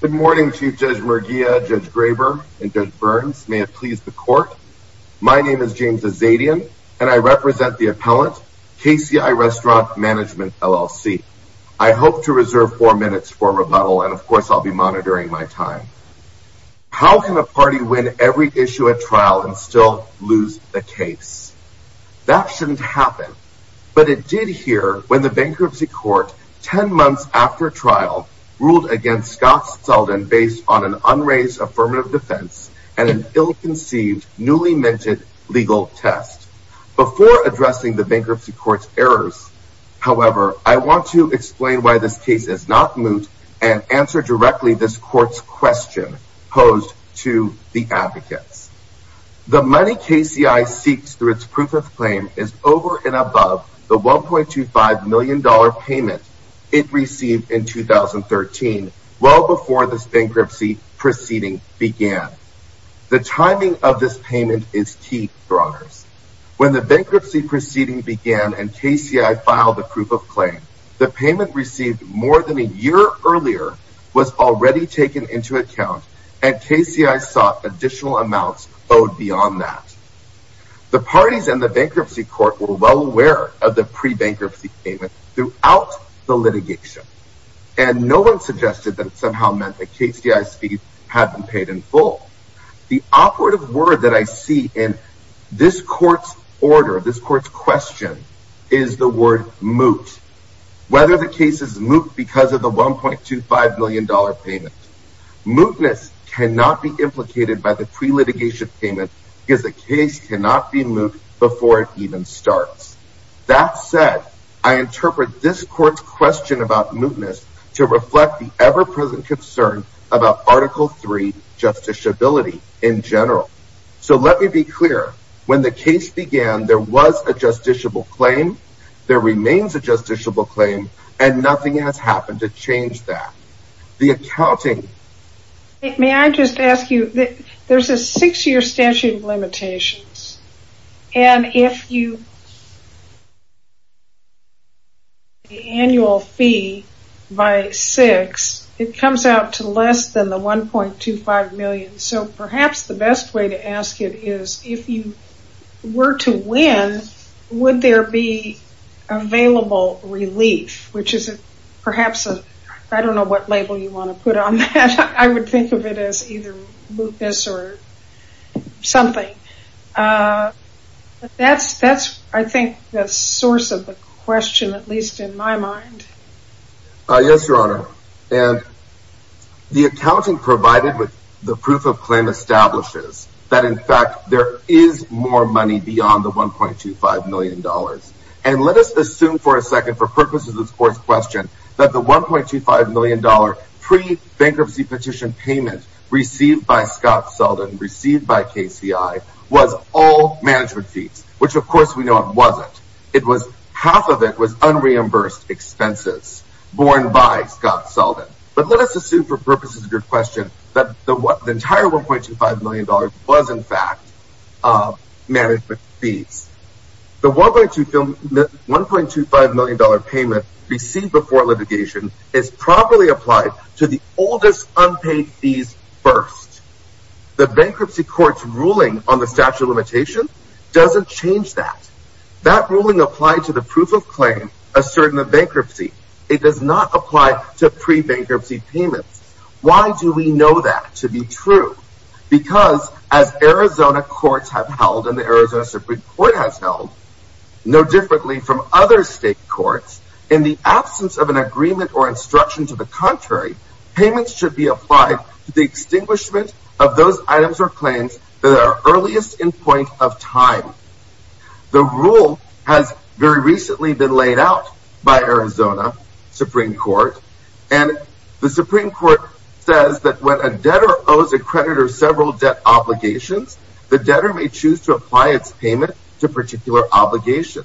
Good morning Chief Judge Merguia, Judge Graber and Judge Burns. May it please the court. My name is James Azadian and I represent the appellant KCI Restaurant Management LLC. I hope to reserve four minutes for rebuttal and of course I'll be monitoring my time. How can a party win every issue at trial and still lose the case? That shouldn't happen but it did here when the bankruptcy court ten against Scott Seldin based on an unraised affirmative defense and an ill-conceived newly minted legal test. Before addressing the bankruptcy court's errors, however, I want to explain why this case is not moot and answer directly this court's question posed to the advocates. The money KCI seeks through its proof of claim is over and above the 1.25 million dollar payment it well before this bankruptcy proceeding began. The timing of this payment is key for honors. When the bankruptcy proceeding began and KCI filed the proof of claim, the payment received more than a year earlier was already taken into account and KCI sought additional amounts owed beyond that. The parties and the bankruptcy court were well aware of the pre-bankruptcy payment throughout the litigation and no one suggested that somehow meant that KCI's fees had been paid in full. The operative word that I see in this court's order, this court's question, is the word moot. Whether the case is moot because of the 1.25 million dollar payment. Mootness cannot be implicated by the pre-litigation payment because the case cannot be moot before it even starts. That said, I interpret this court's question about mootness to reflect the ever-present concern about article 3 justiciability in general. So let me be clear, when the case began there was a justiciable claim, there remains a justiciable claim, and nothing has happened to change that. The accounting... May I just ask you, there's a six-year statute of limitations and if you... ...the annual fee by six, it comes out to less than the 1.25 million, so perhaps the best way to ask it is if you were to win, would there be available relief, which is perhaps a... I don't know what label you want to put on that. I would think of it as either mootness or something. That's, I think, the source of the question, at least in my mind. Yes, Your Honor, and the accounting provided with the proof of claim establishes that, in fact, there is more money beyond the 1.25 million dollars. And let us assume for a second, for purposes of this court's question, that the 1.25 million dollar pre-bankruptcy petition payment received by Scott Seldin, received by KCI, was all management fees, which of course we know it wasn't. It was, half of it was unreimbursed expenses borne by Scott Seldin. But let us assume for purposes of your question that the entire 1.25 million dollars was, in fact, management fees. The 1.25 million dollar payment received before litigation is probably applied to the oldest unpaid fees first. The bankruptcy court's ruling on the statute of limitation doesn't change that. That ruling applied to the proof of claim asserting the bankruptcy. It does not apply to pre-bankruptcy payments. Why do we know that to be true? Because as Arizona courts have held, and the Arizona state courts, in the absence of an agreement or instruction to the contrary, payments should be applied to the extinguishment of those items or claims that are earliest in point of time. The rule has very recently been laid out by Arizona Supreme Court. And the Supreme Court says that when a debtor owes a creditor several debt obligations, the debtor may choose to apply its payment to a particular obligation.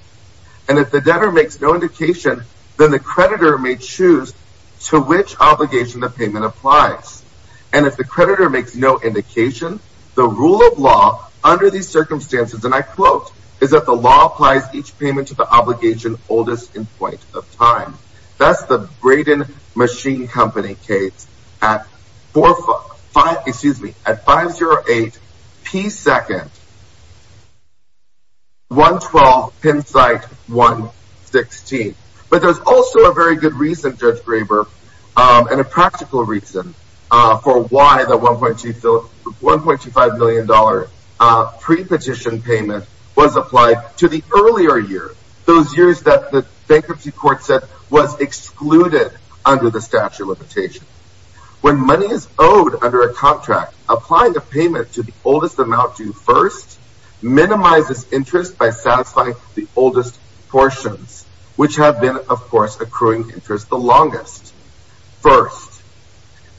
And if the debtor makes no indication, then the creditor may choose to which obligation the payment applies. And if the creditor makes no indication, the rule of law under these circumstances, and I quote, is that the law applies each payment to the obligation oldest in point of time. That's the Braden Machine Company case at 508 P. 2nd, 112 Pennsite 116. But there's also a very good reason, Judge Graber, and a practical reason for why the $1.25 million pre-petition payment was applied to the earlier year, those years that the bankruptcy court said was excluded under the Statute of Limitation. When money is owed under a contract, applying the payment to the oldest amount due first minimizes interest by satisfying the oldest portions, which have been, of course, accruing interest the longest, first.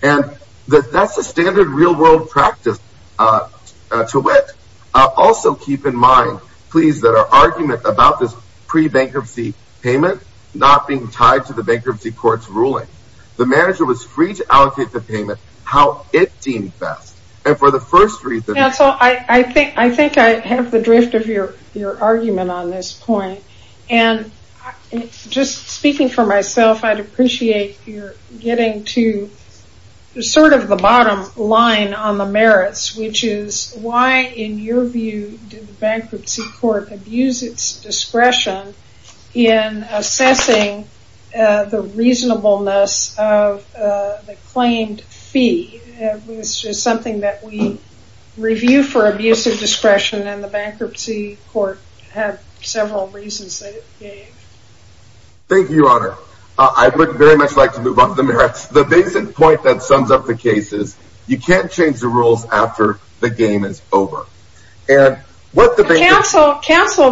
And that's the standard real-world practice to wit. Also keep in mind, please, that our argument about this pre-bankruptcy payment not being tied to the bankruptcy court's ruling. The manager was free to allocate the payment how it deemed best. And for the first reason... Yeah, so I think I have the drift of your argument on this point. And just speaking for myself, I'd appreciate your getting to sort of the bottom line on the merits, which is why, in your view, did the bankruptcy court abuse its discretion in assessing the reasonableness of the claimed fee? It's just something that we review for abuse of discretion, and the bankruptcy court had several reasons that it gave. Thank you, Your Honor. I would very much like to move on to the merits. The basic point that sums up the case is you can't change the rules after the game is over. Counsel,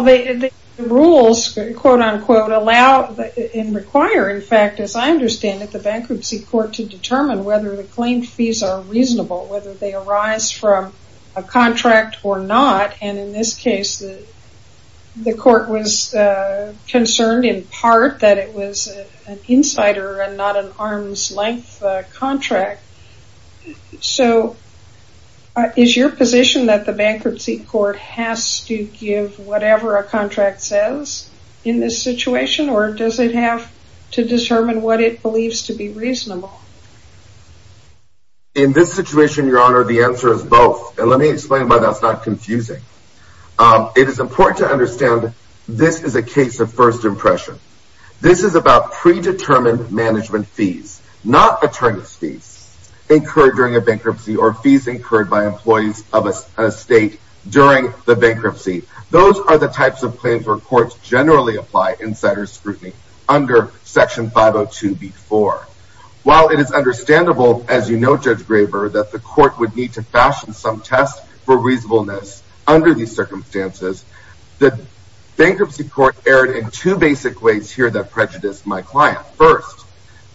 the rules, quote-unquote, allow and require, in fact, as I understand it, the bankruptcy court to determine whether the claimed fees are reasonable, whether they arise from a contract or not. And in this case, the court was concerned in part that it was an insider and not an arm's-length contract. So is your position that the bankruptcy court has to give whatever a contract says in this situation, or does it have to determine what it believes to be reasonable? In this situation, Your Honor, the answer is both. And let me explain why that's not confusing. It is about predetermined management fees, not attorney's fees incurred during a bankruptcy or fees incurred by employees of a state during the bankruptcy. Those are the types of claims where courts generally apply insider scrutiny under section 502b4. While it is understandable, as you know, Judge Graber, that the court would need to fashion some test for reasonableness under these circumstances, the bankruptcy court erred in two basic ways here that prejudice my client. First,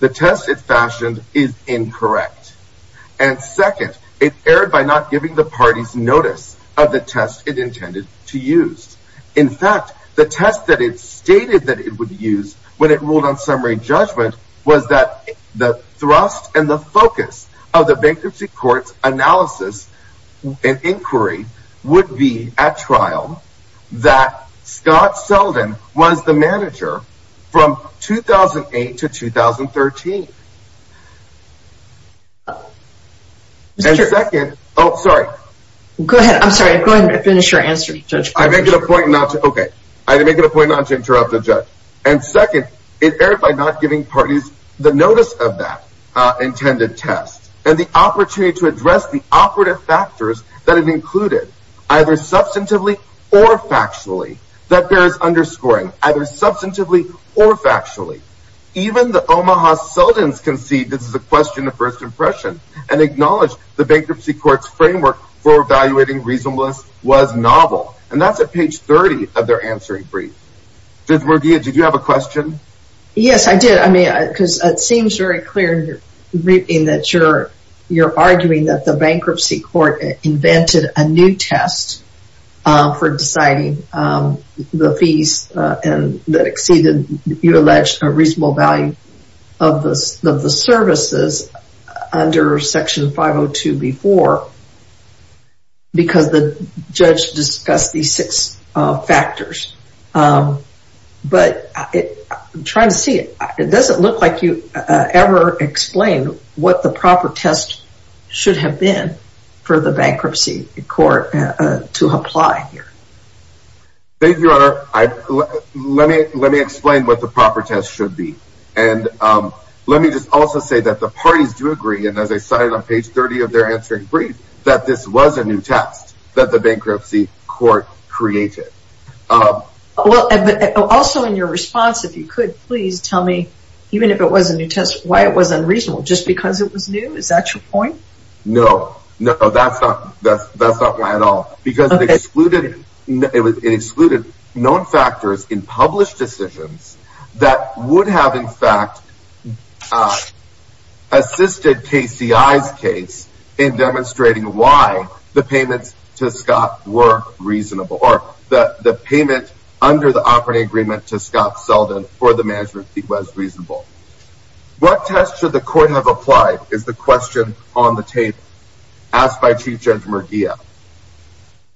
the test it fashioned is incorrect. And second, it erred by not giving the parties notice of the test it intended to use. In fact, the test that it stated that it would use when it ruled on summary judgment was that the thrust and the focus of the bankruptcy court's analysis and inquiry would be at 2008 to 2013. Oh, sorry. Go ahead. I'm sorry. Go ahead and finish your answer, Judge. I make it a point not to, okay, I make it a point not to interrupt the judge. And second, it erred by not giving parties the notice of that intended test and the opportunity to address the operative factors that have included, either substantively or factually, that bears underscoring, either substantively or factually. Even the Omaha Seldins concede this is a question of first impression and acknowledge the bankruptcy court's framework for evaluating reasonableness was novel. And that's at page 30 of their answering brief. Judge Murguia, did you have a question? Yes, I did. I mean, because it seems very clear in that you're arguing that the bankruptcy court invented a new test for deciding the exceeded, you allege, a reasonable value of the services under section 502B4 because the judge discussed these six factors. But I'm trying to see, it doesn't look like you ever explain what the proper test should have been for the let me explain what the proper test should be. And let me just also say that the parties do agree, and as I cited on page 30 of their answering brief, that this was a new test that the bankruptcy court created. Also in your response, if you could, please tell me, even if it was a new test, why it was unreasonable? Just because it was new? Is that your point? No, no, that's not my at all. Because it excluded known factors in published decisions that would have, in fact, assisted KCI's case in demonstrating why the payments to Scott were reasonable, or that the payment under the operating agreement to Scott Seldin for the management fee was reasonable. What test should the court have applied is the question on the table asked by Chief Judge Murguia.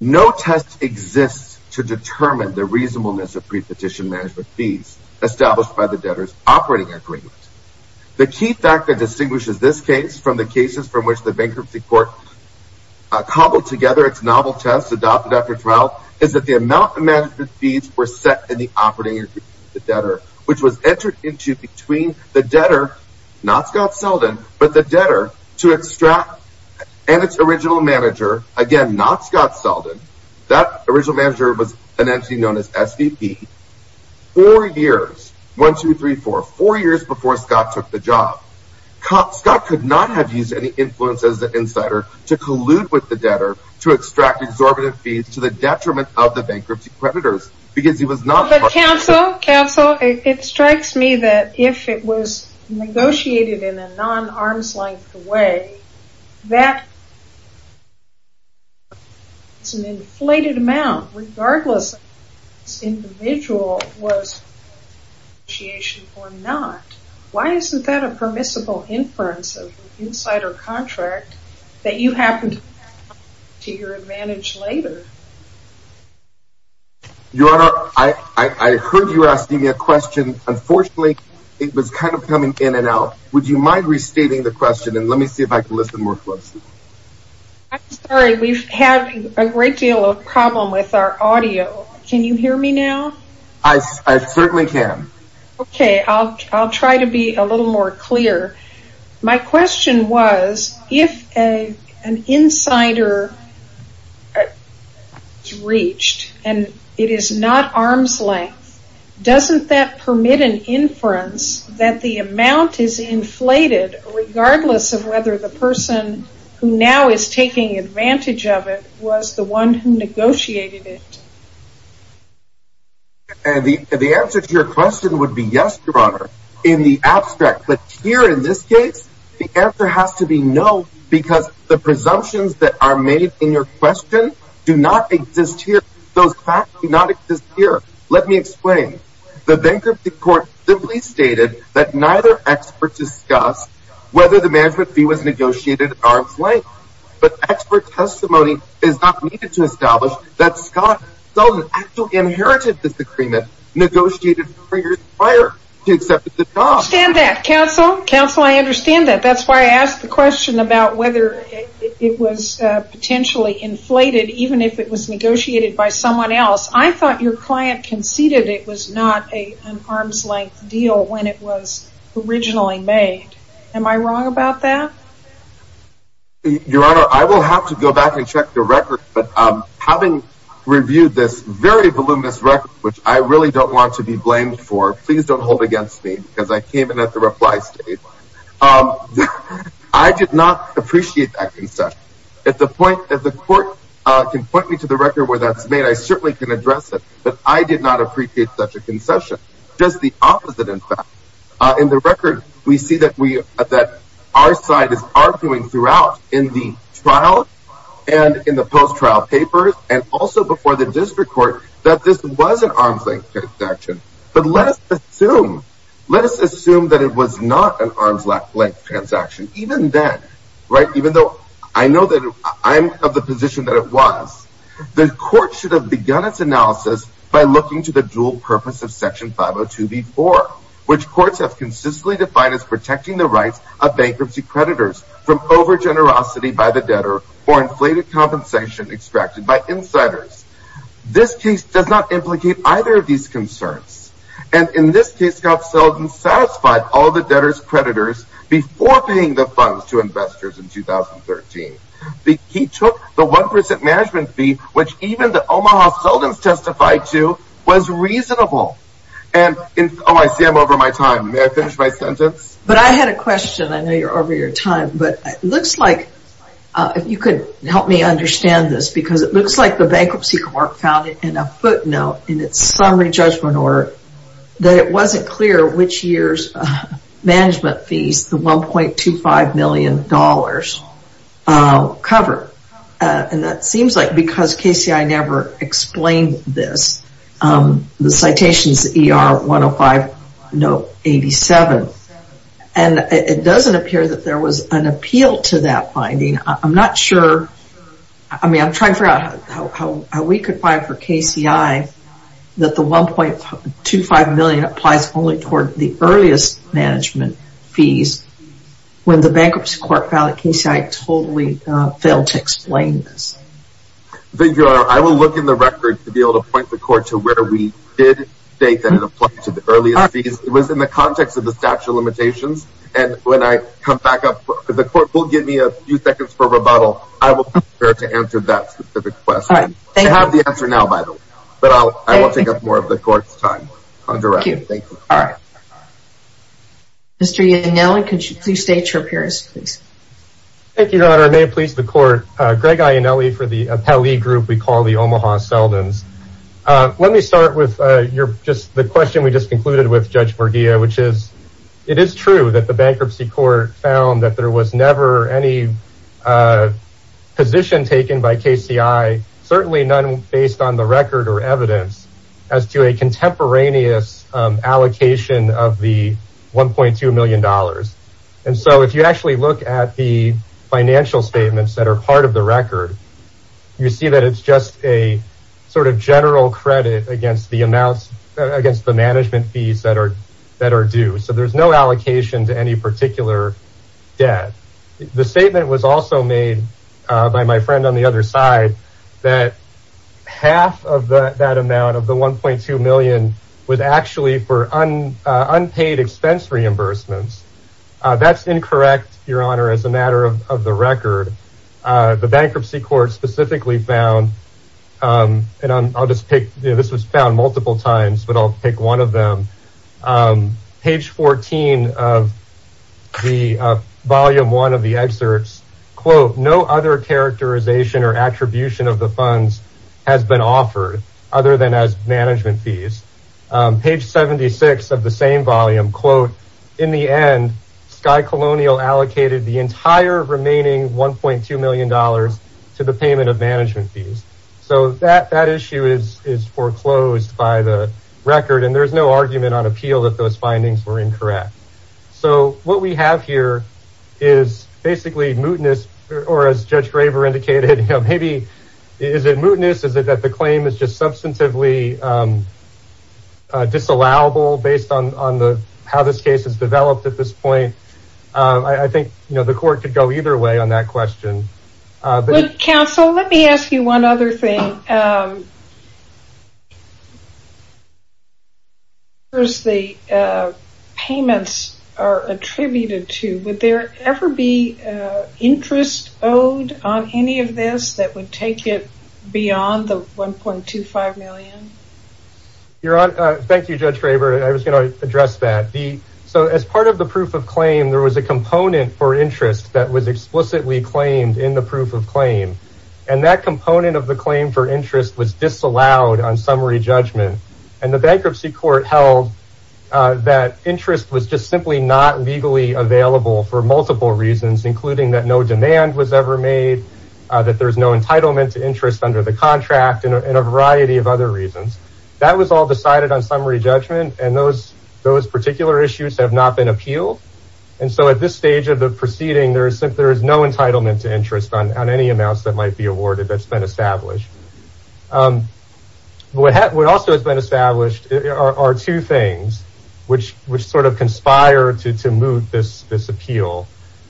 No test exists to determine the reasonableness of prepetition management fees established by the debtor's operating agreement. The key fact that distinguishes this case from the cases from which the bankruptcy court cobbled together its novel test adopted after trial is that the amount of management fees were set in the operating agreement of the debtor, which was entered into between the debtor, not Scott Seldin, but the debtor to extract, and its original manager, again, not Scott Seldin, that original manager was an entity known as SDP, four years, one, two, three, four, four years before Scott took the job. Scott could not have used any influence as the insider to collude with the debtor to extract exorbitant fees to the detriment of the bankruptcy creditors because he was not- But counsel, counsel, it strikes me that if it was negotiated in a non-arm's-length way, that it's an inflated amount, regardless if this individual was a negotiator or not, why isn't that a permissible inference of Your Honor, I heard you asking me a question. Unfortunately, it was kind of coming in and out. Would you mind restating the question and let me see if I can listen more closely. I'm sorry, we've had a great deal of problem with our audio. Can you hear me now? I certainly can. Okay, I'll try to be a little more reached. And it is not arm's length. Doesn't that permit an inference that the amount is inflated regardless of whether the person who now is taking advantage of it was the one who negotiated it? The answer to your question would be yes, Your Honor, in the abstract. But here in this case, the presumptions that are made in your question do not exist here. Those facts do not exist here. Let me explain. The bankruptcy court simply stated that neither expert discussed whether the management fee was negotiated at arm's length. But expert testimony is not needed to establish that Scott Sullivan actually inherited this agreement negotiated three years prior to accepting the job. I understand that, counsel. Counsel, I understand that. That's why I asked the question about whether it was potentially inflated even if it was negotiated by someone else. I thought your client conceded it was not an arm's length deal when it was originally made. Am I wrong about that? Your Honor, I will have to go back and check the record. But having reviewed this very voluminous record, which I really don't want to be blamed for, please don't hold I did not appreciate that concession. If the court can point me to the record where that's made, I certainly can address it. But I did not appreciate such a concession. Just the opposite, in fact. In the record, we see that our side is arguing throughout in the trial and in the post-trial papers and also before the district court that this was an arm's length transaction. But let us assume, let us assume that it was not an arm's length transaction even then, right, even though I know that I'm of the position that it was. The court should have begun its analysis by looking to the dual purpose of Section 502b4, which courts have consistently defined as protecting the rights of bankruptcy creditors from over generosity by the debtor or inflated compensation extracted by insiders. This case does not implicate either of these concerns. And in this case, Goff Seldin satisfied all the debtors creditors before paying the funds to investors in 2013. He took the 1% management fee, which even the Omaha Seldins testified to was reasonable. And oh, I see I'm over my time. May I finish my sentence? But I had a question. I know you're over your time, but it looks like if you could help me understand this, because it looks like the bankruptcy court found it in a footnote in its summary judgment order, that it wasn't clear which year's management fees, the $1.25 million covered. And that seems like because KCI never explained this, the citations ER 105 note 87. And it doesn't appear that there was an appeal to that finding. I'm not sure. I mean, I'm not sure that it was specified for KCI that the $1.25 million applies only toward the earliest management fees, when the bankruptcy court found that KCI totally failed to explain this. Thank you, I will look in the record to be able to point the court to where we did state that it applied to the earliest fees. It was in the context of the statute of limitations. And when I come back up, the court will give me a few seconds for rebuttal. I will be prepared to answer that specific question. I have the answer now, by the way. But I will take up more of the court's time. Mr. Ionelli, could you please state your appearance, please? Thank you, Your Honor. May it please the court. Greg Ionelli for the Appellee Group we call the Omaha Seldins. Let me start with your just the question we just concluded with Judge Morgia, which is, it is true that the bankruptcy court found that there was never any position taken by KCI, certainly none based on the record or evidence as to a contemporaneous allocation of the $1.2 million. And so if you actually look at the financial statements that are part of the record, you see that it's just a sort of general credit against the amounts against the management fees that are that are due. So there's no allocation to any particular debt. The statement was also made by my friend on the other side that half of that amount of the $1.2 million was actually for unpaid expense reimbursements. That's incorrect, Your Honor, as a matter of the record. The bankruptcy court specifically found and I'll just pick this was found multiple times, but I'll pick one of them. Page 14 of the volume one of the excerpts, quote, no other characterization or attribution of the funds has been offered other than as management fees. Page 76 of the same volume, quote, in the end, Sky Colonial allocated the entire remaining $1.2 million to the payment of by the record. And there's no argument on appeal that those findings were incorrect. So what we have here is basically mootness or as Judge Graver indicated, maybe is it mootness? Is it that the claim is just substantively disallowable based on on the how this case is developed at this point? I think the court could go either way on that question. But counsel, let me ask you one other thing. The payments are attributed to would there ever be interest owed on any of this that would take it beyond the $1.25 million? Your Honor, thank you, Judge Graver. I was going to address that. So as part of the proof of claim, there was a component for interest that was explicitly claimed in the proof of the claim for interest was disallowed on summary judgment. And the bankruptcy court held that interest was just simply not legally available for multiple reasons, including that no demand was ever made, that there's no entitlement to interest under the contract and a variety of other reasons. That was all decided on summary judgment. And those those particular issues have not been appealed. And so at this stage of the proceeding, there is no entitlement to interest that has been established. What also has been established are two things which which sort of conspire to to move this this appeal.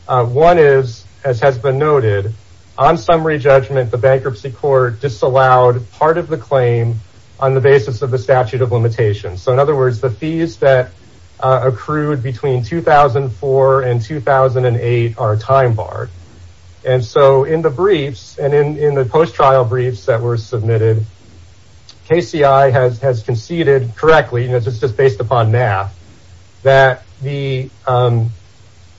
One is, as has been noted on summary judgment, the bankruptcy court disallowed part of the claim on the basis of the statute of limitations. So in other words, the fees that accrued between 2004 and 2008 are time barred. And so in the briefs and in the post-trial briefs that were submitted, KCI has conceded correctly, and it's just based upon math, that the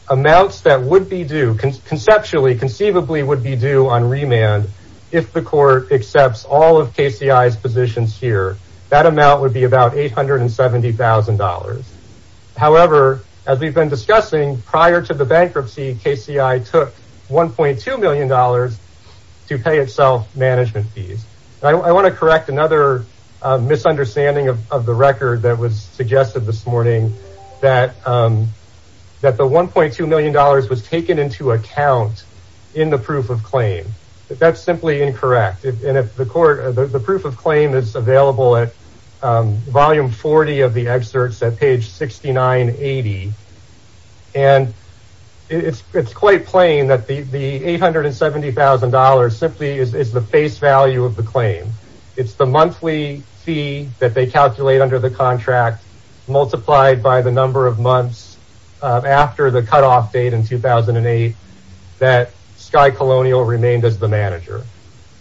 amounts that would be due conceptually, conceivably would be due on remand if the court accepts all of KCI's positions here, that amount would be about eight hundred and seventy thousand dollars. However, as we've been discussing prior to the bankruptcy, KCI took one point two million dollars to pay itself management fees. I want to correct another misunderstanding of the record that was suggested this morning that that the one point two million dollars was taken into account in the proof of claim. That's simply incorrect. And if the court the proof of claim is volume 40 of the excerpts at page sixty nine eighty. And it's it's quite plain that the eight hundred and seventy thousand dollars simply is the face value of the claim. It's the monthly fee that they calculate under the contract multiplied by the number of months after the cutoff date in 2008 that Sky Colonial remained as the manager.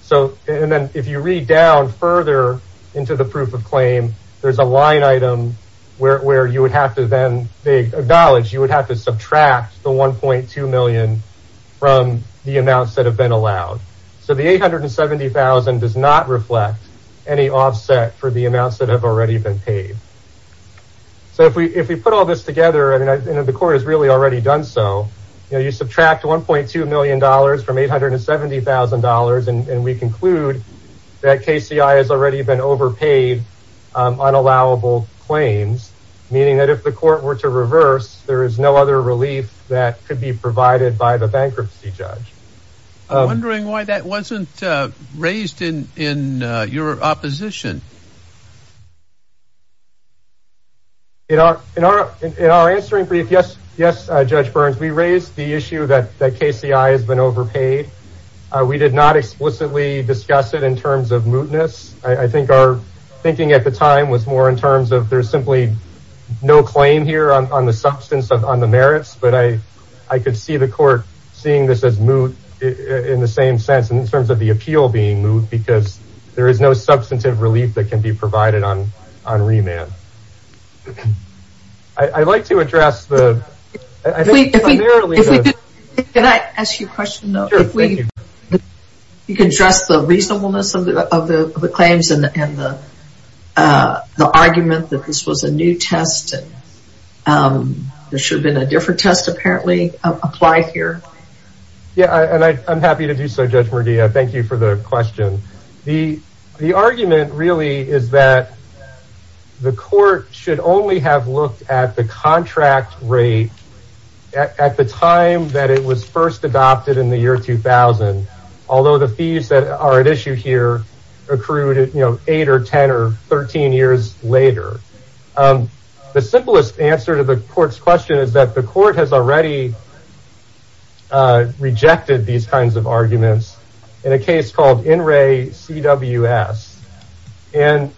So and then if you read down further into the proof of claim, there's a line item where you would have to then acknowledge you would have to subtract the one point two million from the amounts that have been allowed. So the eight hundred and seventy thousand does not reflect any offset for the amounts that have already been paid. So if we if we put all this together, I mean, the court has really already done so. You subtract one point two million dollars from eight hundred and seventy thousand dollars and we conclude that KCI has already been overpaid on allowable claims, meaning that if the court were to reverse, there is no other relief that could be provided by the bankruptcy judge. I'm wondering why that wasn't raised in in your opposition. In our in our in our answering brief, yes, yes, Judge Burns, we raised the issue that KCI has been overpaid. We did not explicitly discuss it in terms of mootness. I think our thinking at the time was more in terms of there's simply no claim here on the substance of on the merits. But I I could see the court seeing this as moot in the same sense in terms of the appeal being moot because there is no substantive relief that can be provided on on remand. I'd like to address the. Can I ask you a question? You can address the reasonableness of the claims and the argument that this was a new test. There should have been a different test apparently applied here. Yeah, and I'm happy to do so, Judge Murdia. Thank you for the question. The the argument really is that the court should only have looked at the contract rate at the time that it was first adopted in the year 2000, although the fees that are at issue here accrued eight or 10 or 13 years later. The simplest answer to the court's question is that the court has already rejected these kinds of and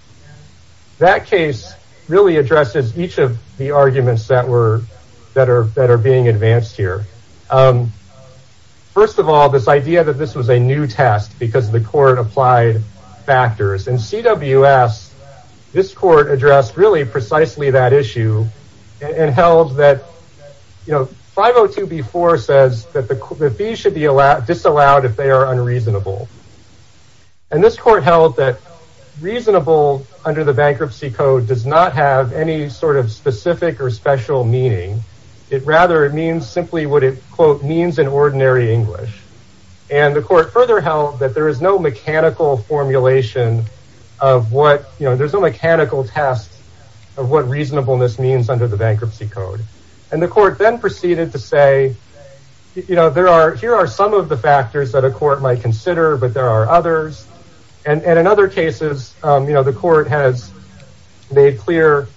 that case really addresses each of the arguments that were that are that are being advanced here. First of all, this idea that this was a new test because the court applied factors and CWS, this court addressed really precisely that issue and held that, you know, 502 B4 says that the fees should be allowed, disallowed if they are unreasonable. And this court held that reasonable under the bankruptcy code does not have any sort of specific or special meaning. It rather it means simply what it means in ordinary English. And the court further held that there is no mechanical formulation of what you know, there's no mechanical test of what reasonableness means under the bankruptcy code. And the court then proceeded to say, you know, there are here are some of the factors that a court might consider, but there are others. And in other cases, you know, the court has made clear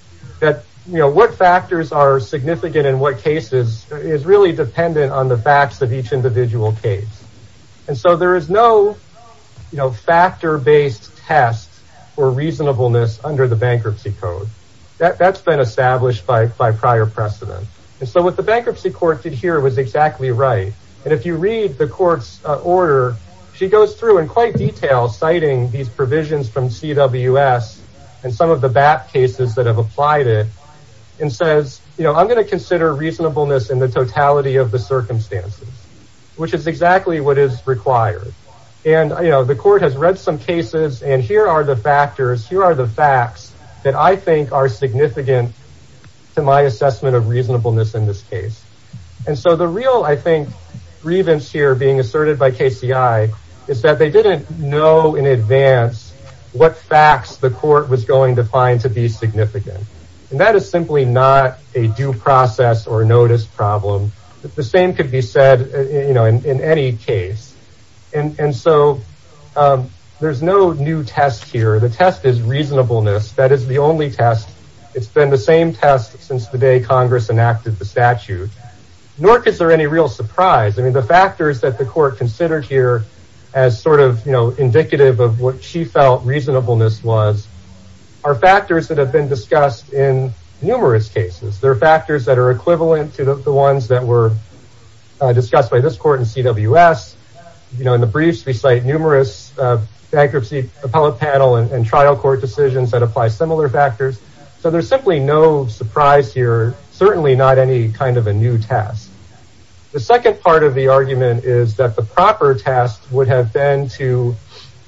that, you know, what factors are significant in what cases is really dependent on the facts of each individual case. And so there is no, you know, factor based tests or reasonableness under the bankruptcy code that that's been established by by prior precedent. And so what the bankruptcy court did here was exactly right. And if you read the court's order, she goes through in quite detail citing these provisions from CWS and some of the BAP cases that have applied it and says, you know, I'm going to consider reasonableness in the totality of the circumstances, which is exactly what is required. And, you know, the court has read some cases. And here are the factors. Here are the facts that I think are significant to my assessment of reasonableness in this case. And so the real, I think, grievance here being asserted by KCI is that they didn't know in advance what facts the court was going to find to be significant. And that is simply not a due process or notice problem. The same could be said, you know, in any case. And so there's no new test here. The test is reasonableness. That is the only test. It's been the same test since the day of the trial. So I don't think these are any real surprise. I mean, the factors that the court considered here as sort of, you know, indicative of what she felt reasonableness was, are factors that have been discussed in numerous cases. They're factors that are equivalent to the ones that were discussed by this court in CWS. You know, in the briefs, we cite numerous bankruptcy appellate panel and trial court decisions that apply similar factors. So there's simply no surprise here. Certainly not any kind of a new test. The second part of the argument is that the proper test would have been to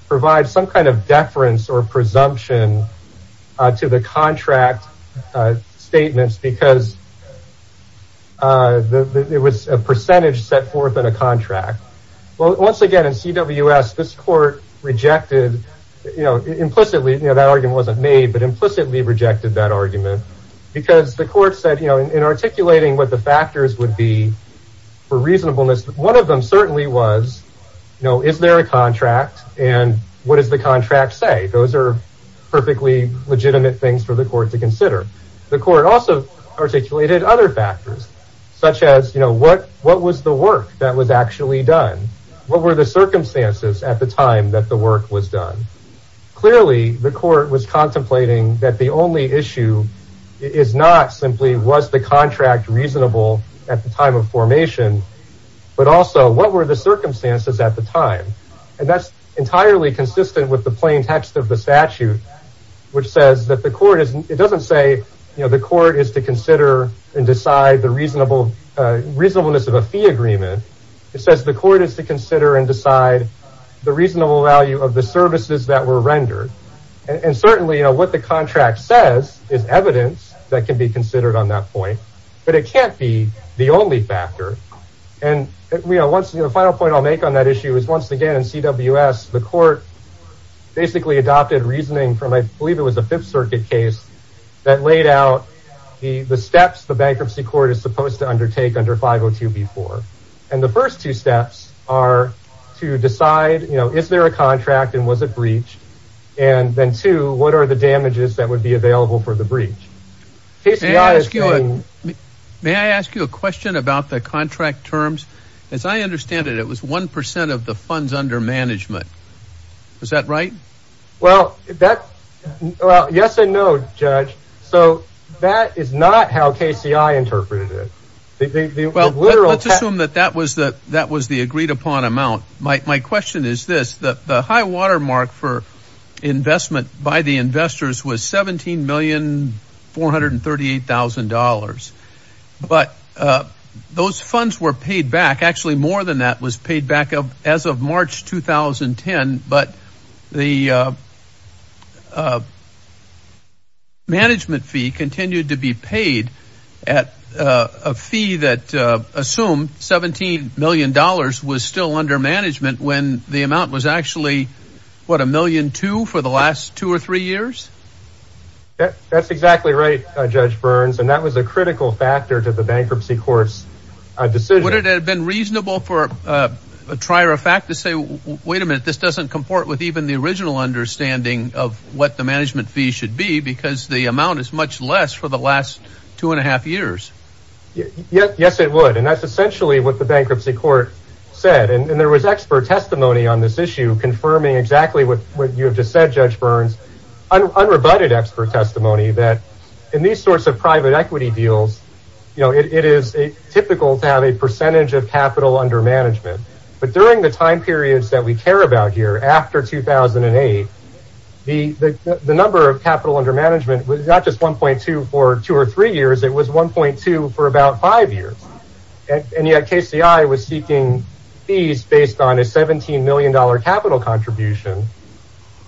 provide some kind of deference or presumption to the contract statements because there was a percentage set forth in a contract. Well, once again, in CWS, this court rejected, you know, implicitly, you know, that argument wasn't made, but because the court said, you know, in articulating what the factors would be for reasonableness, one of them certainly was, you know, is there a contract and what does the contract say? Those are perfectly legitimate things for the court to consider. The court also articulated other factors such as, you know, what, what was the work that was actually done? What were the circumstances at the time that the work was done? Clearly, the court was is not simply was the contract reasonable at the time of formation, but also what were the circumstances at the time? And that's entirely consistent with the plain text of the statute, which says that the court is, it doesn't say, you know, the court is to consider and decide the reasonable, reasonableness of a fee agreement. It says the court is to consider and decide the reasonable value of the services that were rendered. And certainly, you know, what the contract says is evidence that can be considered on that point, but it can't be the only factor. And, you know, once the final point I'll make on that issue is once again, in CWS, the court basically adopted reasoning from, I believe it was a fifth circuit case that laid out the steps the bankruptcy court is supposed to undertake under 502B4. And the first two steps are to decide, you know, is there a contract and was it damages that would be available for the breach? May I ask you a question about the contract terms? As I understand it, it was 1% of the funds under management. Is that right? Well, that, well, yes and no, judge. So that is not how KCI interpreted it. Well, let's assume that that was the agreed upon amount. My question is this, the high watermark for investment by the investors was $17,438,000. But those funds were paid back. Actually, more than that was paid back as of March 2010. But the management fee continued to be paid at a fee that assumed $17 million was still under management when the amount was actually, what, a million two for the last two or three years? That's exactly right, Judge Burns. And that was a critical factor to the bankruptcy court's decision. Would it have been reasonable for a trier of fact to say, wait a minute, this doesn't comport with even the original understanding of what the management fee should be because the amount is much less for the last two and a half years? Yes, it would. And that's essentially what the bankruptcy court said. And there was expert testimony on this issue confirming exactly what you have just said, Judge Burns, unrebutted expert testimony that in these sorts of private equity deals, you know, it is typical to have a percentage of capital under management. But during the time periods that we care about here after 2008, the number of capital under management was not just 1.2 for two or three years, it was 1.2 for about five years. And yet KCI was seeking fees based on a $17 million capital contribution.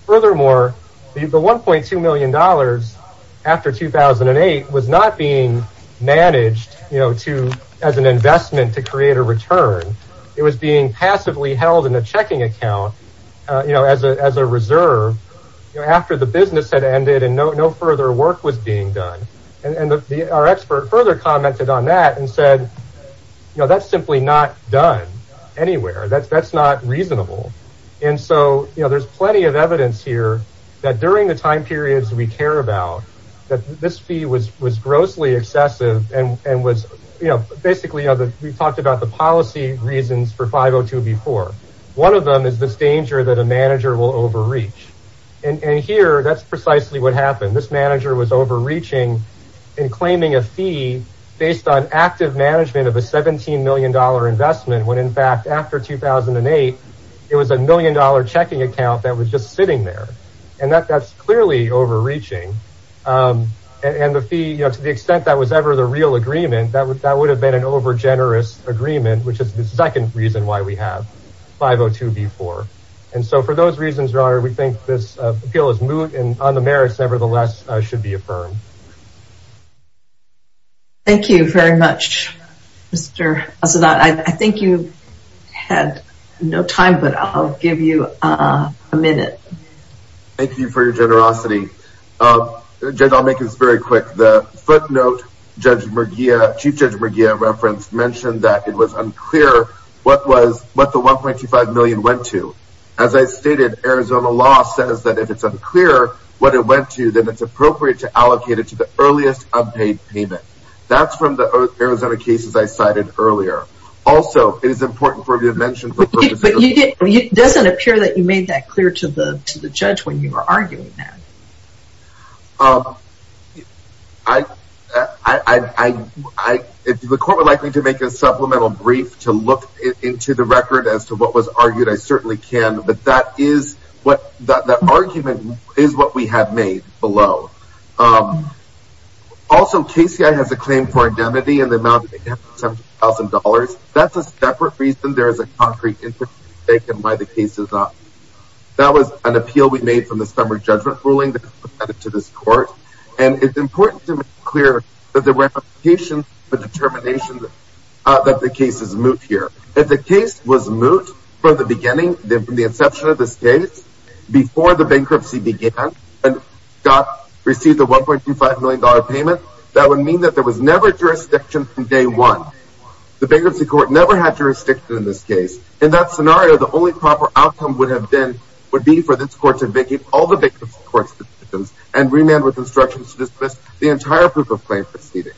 Furthermore, the $1.2 million after 2008 was not being managed, you know, to as an investment to create a return. It was being passively held in a checking account, you know, as a reserve, after the further commented on that and said, you know, that's simply not done anywhere, that's, that's not reasonable. And so, you know, there's plenty of evidence here, that during the time periods we care about, that this fee was was grossly excessive, and was, you know, basically, we've talked about the policy reasons for 502 before, one of them is this danger that a manager will overreach. And here, that's precisely what happened, this manager was overreaching, and claiming a fee based on active management of a $17 million investment, when in fact, after 2008, it was a million dollar checking account that was just sitting there. And that that's clearly overreaching. And the fee, you know, to the extent that was ever the real agreement that would that would have been an over generous agreement, which is the second reason why we have 502 before. And so for those reasons are we think this appeal is moot and on the merits, nevertheless, should be affirmed. Thank you very much, Mr. Asadat. I think you had no time, but I'll give you a minute. Thank you for your generosity. Judge, I'll make this very quick. The footnote, Judge Murguia, Chief Judge Murguia referenced mentioned that it was unclear what was what the 1.25 million went to. As I stated, Arizona law says that if it's unclear what it went to, then it's appropriate to allocate it to the earliest unpaid payment. That's from the Arizona cases I cited earlier. Also, it is important for me to mention doesn't appear that you made that clear to the to the judge when you were arguing that. I, I, if the court would like me to make a supplemental brief to look into the is what we have made below. Also, KCI has a claim for indemnity in the amount of $70,000. That's a separate reason. There is a concrete interest taken by the case is not. That was an appeal we made from the summary judgment ruling to this court. And it's important to make clear that the ramifications for determination that the case is moot here. If the case was moot from the beginning, from the inception of this case, before the bankruptcy began, and got received a $1.25 million payment, that would mean that there was never jurisdiction from day one. The bankruptcy court never had jurisdiction in this case. In that scenario, the only proper outcome would have been would be for this court to vacate all the victims courts and remand with instructions to dismiss the entire proof of claim proceeding.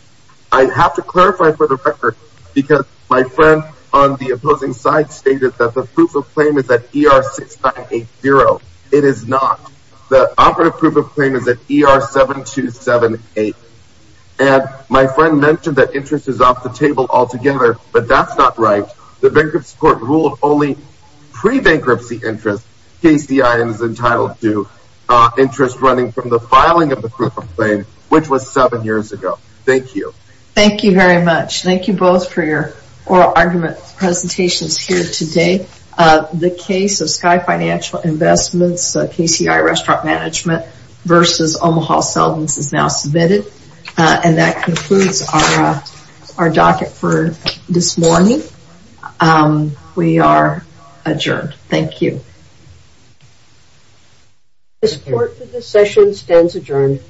I have to clarify for the record, because my friend on the zero, it is not. The operative proof of claim is at ER 7278. And my friend mentioned that interest is off the table altogether. But that's not right. The bankruptcy court ruled only pre-bankruptcy interest. KCI is entitled to interest running from the filing of the proof of claim, which was seven years ago. Thank you. Thank you very much. Thank you both for your oral argument presentations here today. The case of Sky Financial Investments, KCI Restaurant Management versus Omaha Seldins is now submitted. And that concludes our docket for this morning. We are adjourned. Thank you. This court for this session stands adjourned.